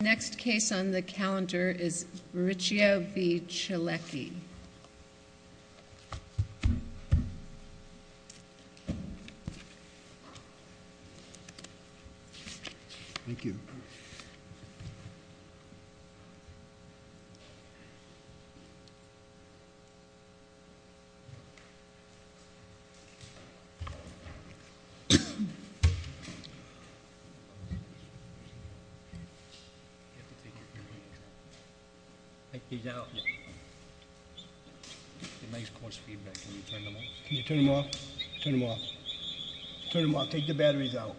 The next case on the calendar is Arricchio v. Chalecki. Take these out. It makes coarse feedback. Can you turn them off? Turn them off. Take the batteries out.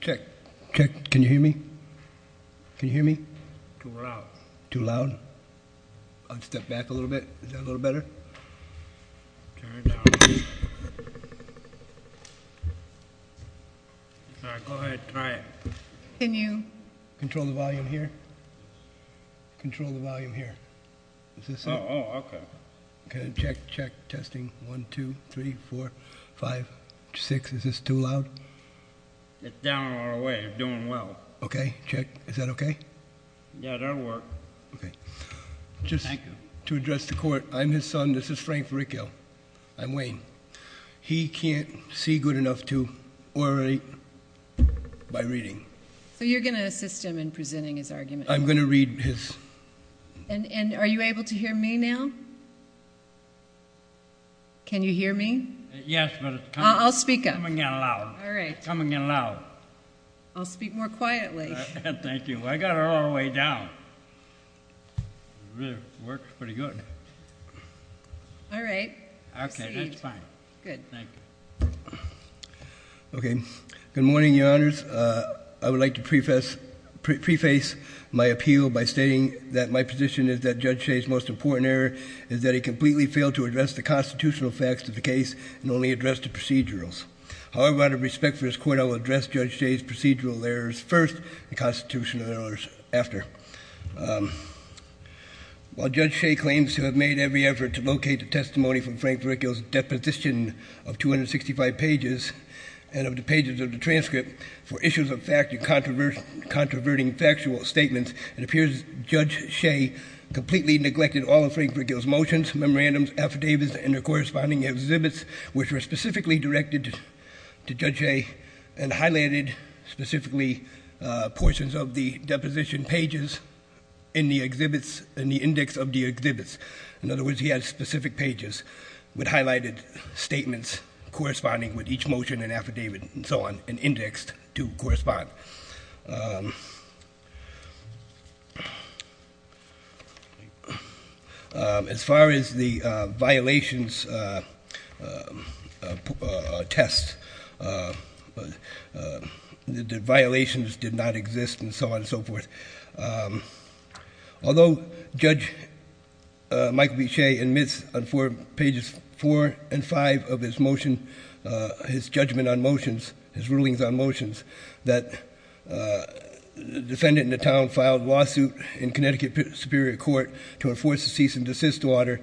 Check. Check. Can you hear me? Can you hear me? Too loud. Too loud? I'll step back a little bit. Is that a little better? Turn it down. All right. Go ahead. Try it. Can you... Control the volume here. Control the volume here. Is this it? Oh. Oh. Okay. Okay. Check. Check. Testing. One, two, three, four, five, six. Is this too loud? It's down all the way. It's doing well. Okay. Check. Is that okay? Yeah, that'll work. Okay. Just to address the court, I'm his son. This is Frank Arricchio. I'm Wayne. He can't see good enough to orate by reading. So you're going to assist him in presenting his argument? I'm going to read his... And are you able to hear me now? Can you hear me? Yes, but it's coming in loud. I'll speak up. All right. It's coming in loud. I'll speak more quietly. Thank you. I got it all the way down. It really works pretty good. All right. Proceed. Okay. That's fine. Good. Thank you. Okay. Good morning, Your Honors. I would like to preface my appeal by stating that my position is that Judge Shea's most important error is that he completely failed to address the constitutional facts of the case and only addressed the procedurals. However, out of respect for his court, I will address Judge Shea's procedural errors first and constitutional errors after. While Judge Shea claims to have made every effort to locate the testimony from Frank Arricchio's deposition of 265 pages and of the pages of the transcript for issues of fact and controverting factual statements, it appears Judge Shea completely neglected all of Frank Arricchio's motions, memorandums, affidavits, and their corresponding exhibits, which were specifically directed to Judge Shea and highlighted specifically portions of the deposition pages in the exhibits, in the index of the exhibits. In other words, he has specific pages with highlighted statements corresponding with each motion and affidavit and so on, and indexed to correspond. As far as the violations test, the violations did not exist and so on and so forth. Although Judge Michael B. Shea admits on pages four and five of his judgment on motions, his rulings on motions, that the defendant in the town filed a lawsuit in Connecticut Superior Court to enforce a cease and desist order,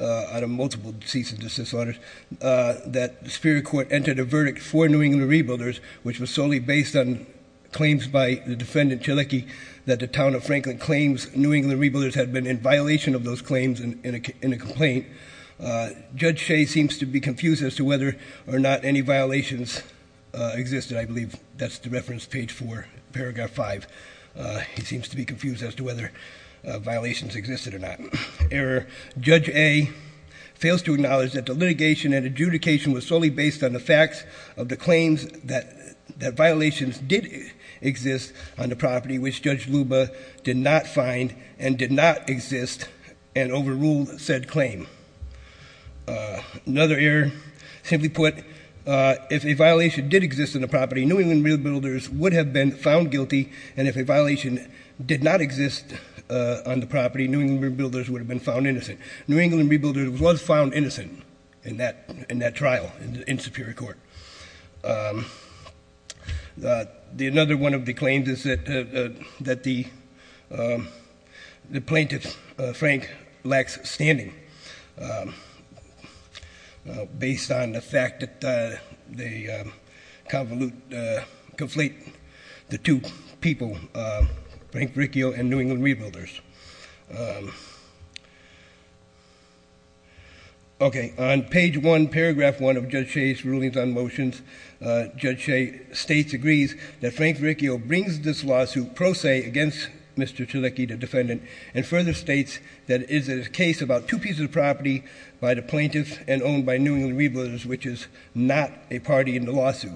out of multiple cease and desist orders, that the Superior Court entered a verdict for New England Rebuilders, which was solely based on claims by the defendant, Chaliki, that the town of Franklin claims New England Rebuilders had been in violation of those claims in a complaint, Judge Shea seems to be confused as to whether or not any violations existed. I believe that's the reference page four, paragraph five. He seems to be confused as to whether violations existed or not. Error, Judge A fails to acknowledge that the litigation and adjudication was solely based on the facts of the claims that violations did exist on the property which Judge Luba did not find and did not exist and overruled said claim. Another error, simply put, if a violation did exist on the property, New England Rebuilders would have been found guilty, and if a violation did not exist on the property, New England Rebuilders would have been found innocent. New England Rebuilders was found innocent in that trial in Superior Court. Another one of the claims is that the plaintiff, Frank, lacks standing based on the fact that they conflate the two people, Frank Riccio and New England Rebuilders. Okay, on page one, paragraph one of Judge Shea's rulings on motions, Judge Shea states, agrees that Frank Riccio brings this lawsuit pro se against Mr. Tulecki, the defendant, and further states that it is a case about two pieces of property by the plaintiff and owned by New England Rebuilders, which is not a party in the lawsuit.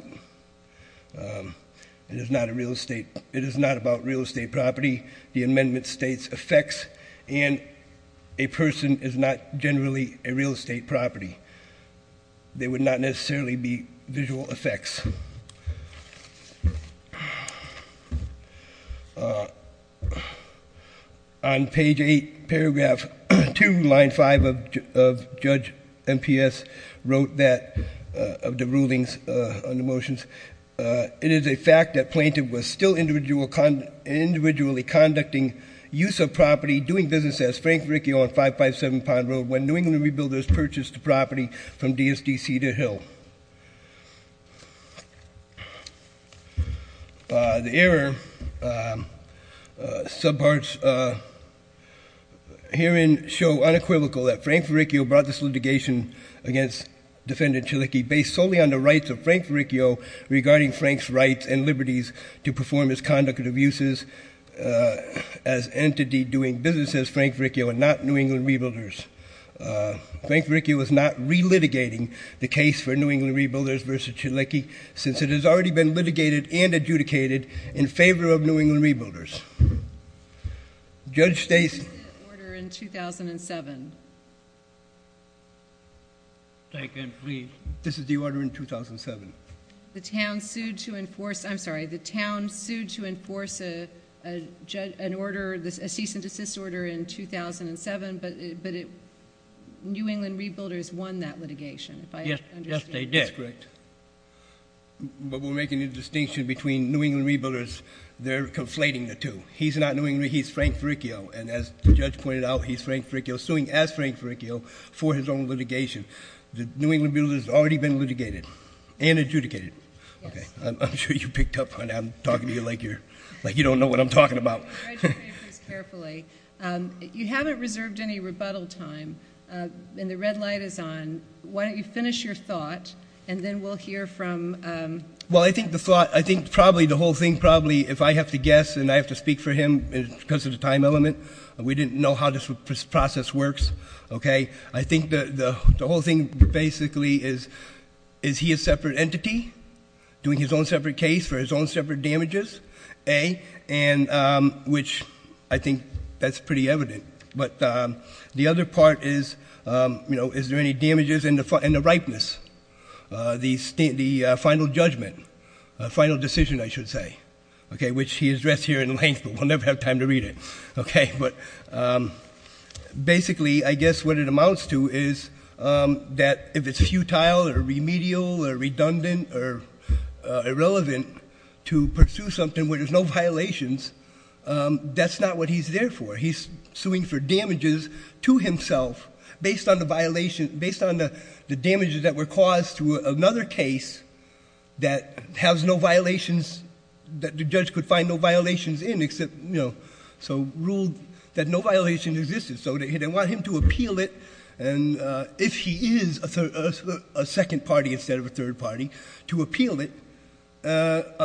It is not a real estate, it is not about real estate property. The amendment states effects, and a person is not generally a real estate property. They would not necessarily be visual effects. On page eight, paragraph two, line five of Judge MPS, wrote that, of the rulings on the motions, it is a fact that plaintiff was still individually conducting use of property, doing business as Frank Riccio on 557 Pond Road, when New England Rebuilders purchased the property from DSDC to Hill. The error subparts herein show unequivocal that Frank Riccio brought this litigation against Defendant Tulecki based solely on the rights of Frank Riccio regarding Frank's rights and liberties to perform his conduct of abuses as entity doing business as Frank Riccio and not New England Rebuilders. Frank Riccio is not re-litigating the case for New England Rebuilders versus Tulecki, since it has already been litigated and adjudicated in favor of New England Rebuilders. Judge Stacey. This is the order in 2007. Second, please. This is the order in 2007. The town sued to enforce, I'm sorry, the town sued to enforce an order, a cease and desist order in 2007, but New England Rebuilders won that litigation, if I understand. Yes, they did. That's correct. But we're making a distinction between New England Rebuilders. They're conflating the two. He's not New England Rebuilders. He's Frank Riccio. And as the judge pointed out, he's Frank Riccio, suing as Frank Riccio for his own litigation. The New England Rebuilders has already been litigated and adjudicated. Okay. I'm sure you picked up on that. I'm talking to you like you don't know what I'm talking about. Congratulations. Carefully. You haven't reserved any rebuttal time, and the red light is on. Why don't you finish your thought, and then we'll hear from... Well, I think the thought, I think probably the whole thing probably, if I have to guess, and I have to speak for him because of the time element, we didn't know how this process works, okay? I think the whole thing basically is, is he a separate entity doing his own separate case for his own separate damages, A, which I think that's pretty evident. But the other part is, you know, is there any damages in the ripeness, the final judgment, final decision, I should say, okay, which he addressed here in length, but we'll never have time to read it, okay? But basically, I guess what it amounts to is that if it's futile or remedial or redundant or irrelevant to pursue something where there's no violations, that's not what he's there for. He's suing for damages to himself based on the violation, based on the damages that were caused to another case that has no violations, that the judge could find no violations in except, you know, so ruled that no violations existed. So they want him to appeal it, and if he is a second party instead of a third party, to appeal it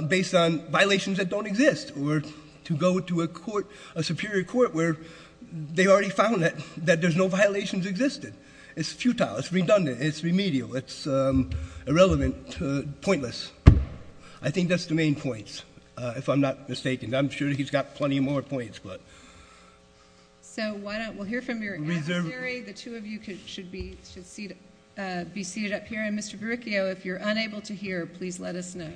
based on violations that don't exist or to go to a court, a superior court where they already found that there's no violations existed. It's futile. It's redundant. It's remedial. It's irrelevant, pointless. I think that's the main points, if I'm not mistaken. I'm sure he's got plenty more points, but. So why don't we hear from your adversary. The two of you should be seated up here. And Mr. Verricchio, if you're unable to hear, please let us know.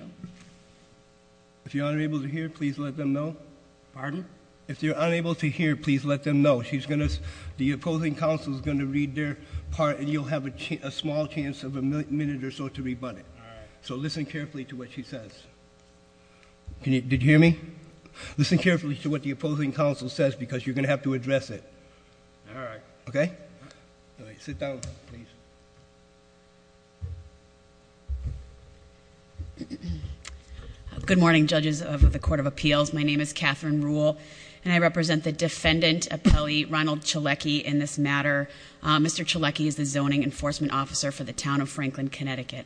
If you're unable to hear, please let them know. Pardon? If you're unable to hear, please let them know. She's going to, the opposing counsel is going to read their part, and you'll have a small chance of a minute or so to rebut it. All right. So listen carefully to what she says. Can you, did you hear me? Listen carefully to what the opposing counsel says, because you're going to have to address it. All right. Okay? All right, sit down, please. Good morning, judges of the Court of Appeals. My name is Catherine Ruhle, and I represent the defendant appellee, Ronald Chaleky, in this matter. Mr. Chaleky is the zoning enforcement officer for the town of Franklin, Connecticut.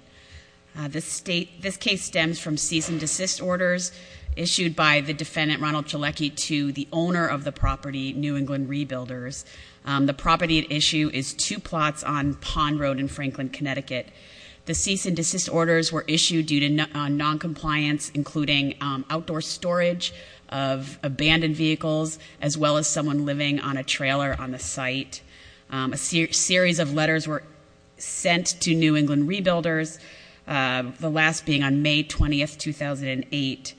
This case stems from cease and desist orders issued by the defendant, Ronald Chaleky, to the owner of the property, New England Rebuilders. The property at issue is two plots on Pond Road in Franklin, Connecticut. The cease and desist orders were issued due to noncompliance, including outdoor storage of abandoned vehicles, as well as someone living on a trailer on the site. A series of letters were sent to New England Rebuilders, the last being on May 20, 2008.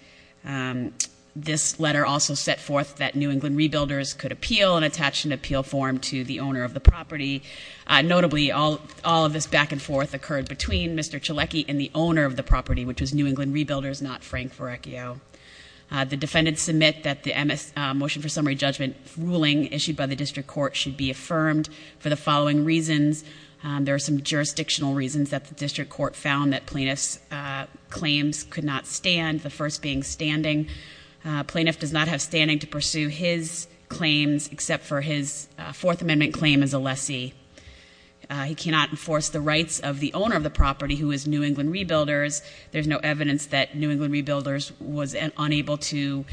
This letter also set forth that New England Rebuilders could appeal and attach an appeal form to the owner of the property. Notably, all of this back and forth occurred between Mr. Chaleky and the owner of the property, which was New England Rebuilders, not Frank Ferrecchio. The defendants submit that the motion for summary judgment ruling issued by the district court should be affirmed for the following reasons. There are some jurisdictional reasons that the district court found that plaintiff's claims could not stand, the first being standing. Plaintiff does not have standing to pursue his claims, except for his fourth amendment claim as a lessee. He cannot enforce the rights of the owner of the property, who is New England Rebuilders. There's no evidence that New England Rebuilders was unable to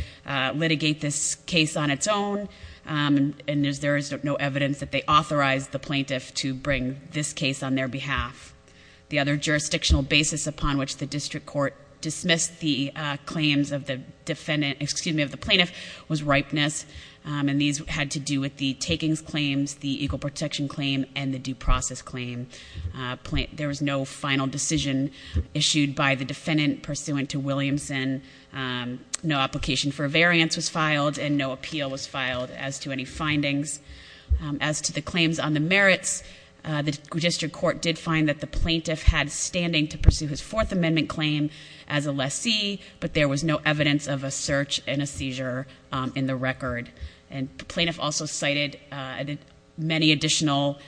litigate this case on its own. And there is no evidence that they authorized the plaintiff to bring this case on their behalf. The other jurisdictional basis upon which the district court dismissed the claims of the defendant, excuse me, of the plaintiff was ripeness. And these had to do with the takings claims, the equal protection claim, and the due process claim. There was no final decision issued by the defendant pursuant to Williamson. No application for a variance was filed, and no appeal was filed as to any findings. As to the claims on the merits, the district court did find that the plaintiff had standing to pursue his fourth amendment claim as a lessee. But there was no evidence of a search and a seizure in the record. And the plaintiff also cited many additional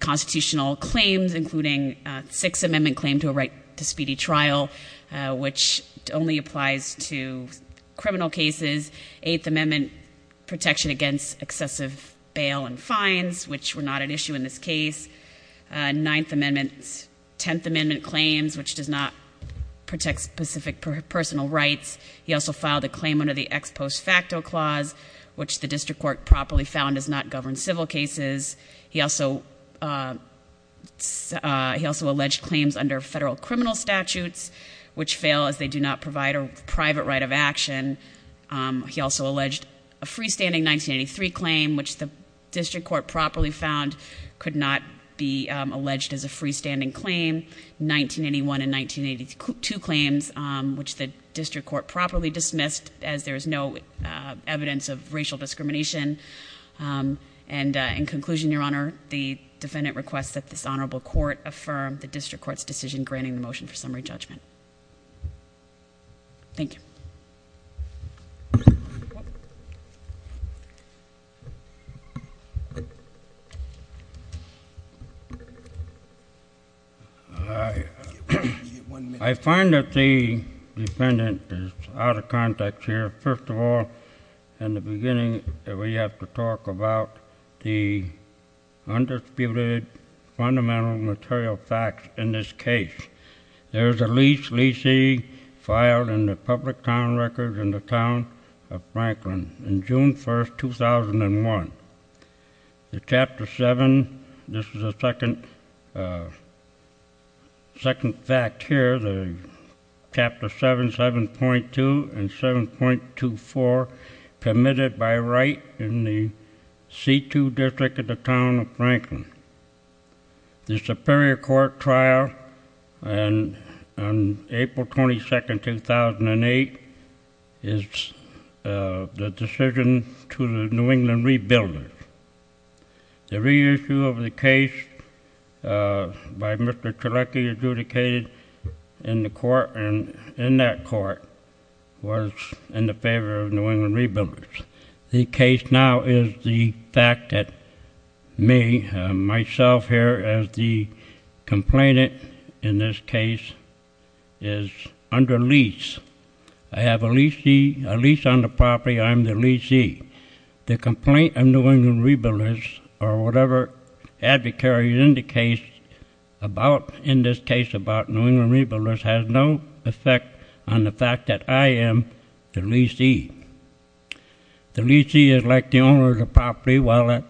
constitutional claims, including six amendment claim to a right to speedy trial, which only applies to criminal cases. Eighth amendment protection against excessive bail and fines, which were not an issue in this case. Ninth amendment, tenth amendment claims, which does not protect specific personal rights. He also filed a claim under the ex post facto clause, which the district court properly found does not govern civil cases. He also alleged claims under federal criminal statutes, which fail as they do not provide a private right of action. He also alleged a freestanding 1983 claim, which the district court properly found could not be alleged as a freestanding claim. 1981 and 1982 claims, which the district court properly dismissed as there is no evidence of racial discrimination. And in conclusion, your honor, the defendant requests that this honorable court affirm the district court's decision granting the motion for summary judgment. Thank you. I find that the defendant is out of context here. First of all, in the beginning, we have to talk about the undisputed fundamental material facts in this case. There's a lease, leasing filed in the public town records in the town of Franklin on June 1st, 2001. The chapter seven, this is the second fact here, the chapter seven, 7.2 and 7.24, permitted by right in the C2 district of the town of Franklin. The superior court trial on April 22nd, 2008 is the decision to the New England Rebuilders. The reissue of the case by Mr. Trelecky adjudicated in the court and in that court was in the favor of New England Rebuilders. The case now is the fact that me, myself here, as the complainant in this case, is under lease. I have a lease on the property, I'm the leasee. The complaint of New England Rebuilders or whatever advocate is in the case about in this case about New England Rebuilders has no effect on the fact that I am the leasee. The leasee is like the owner of the property while the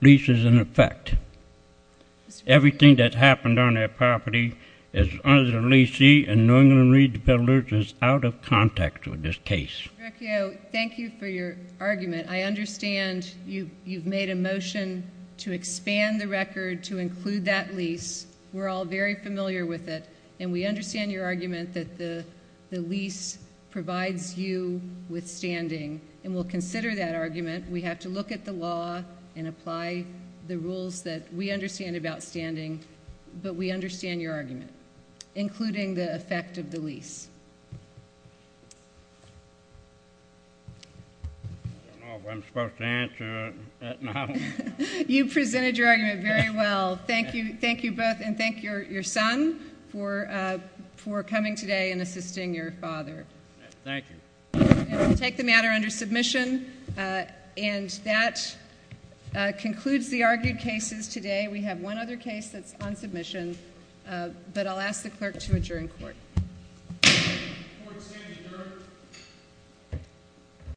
lease is in effect. Everything that happened on that property is under the leasee and New England Rebuilders is out of context with this case. Thank you for your argument. I understand you've made a motion to expand the record to include that lease. We're all very familiar with it. And we understand your argument that the lease provides you with standing and we'll consider that argument. We have to look at the law and apply the rules that we understand about standing, but we understand your argument, including the effect of the lease. I don't know if I'm supposed to answer it now. You presented your argument very well. Thank you both and thank your son for coming today and assisting your father. Thank you. Take the matter under submission and that concludes the argued cases today. We have one other case that's on submission, but I'll ask the clerk to adjourn court. Court is adjourned.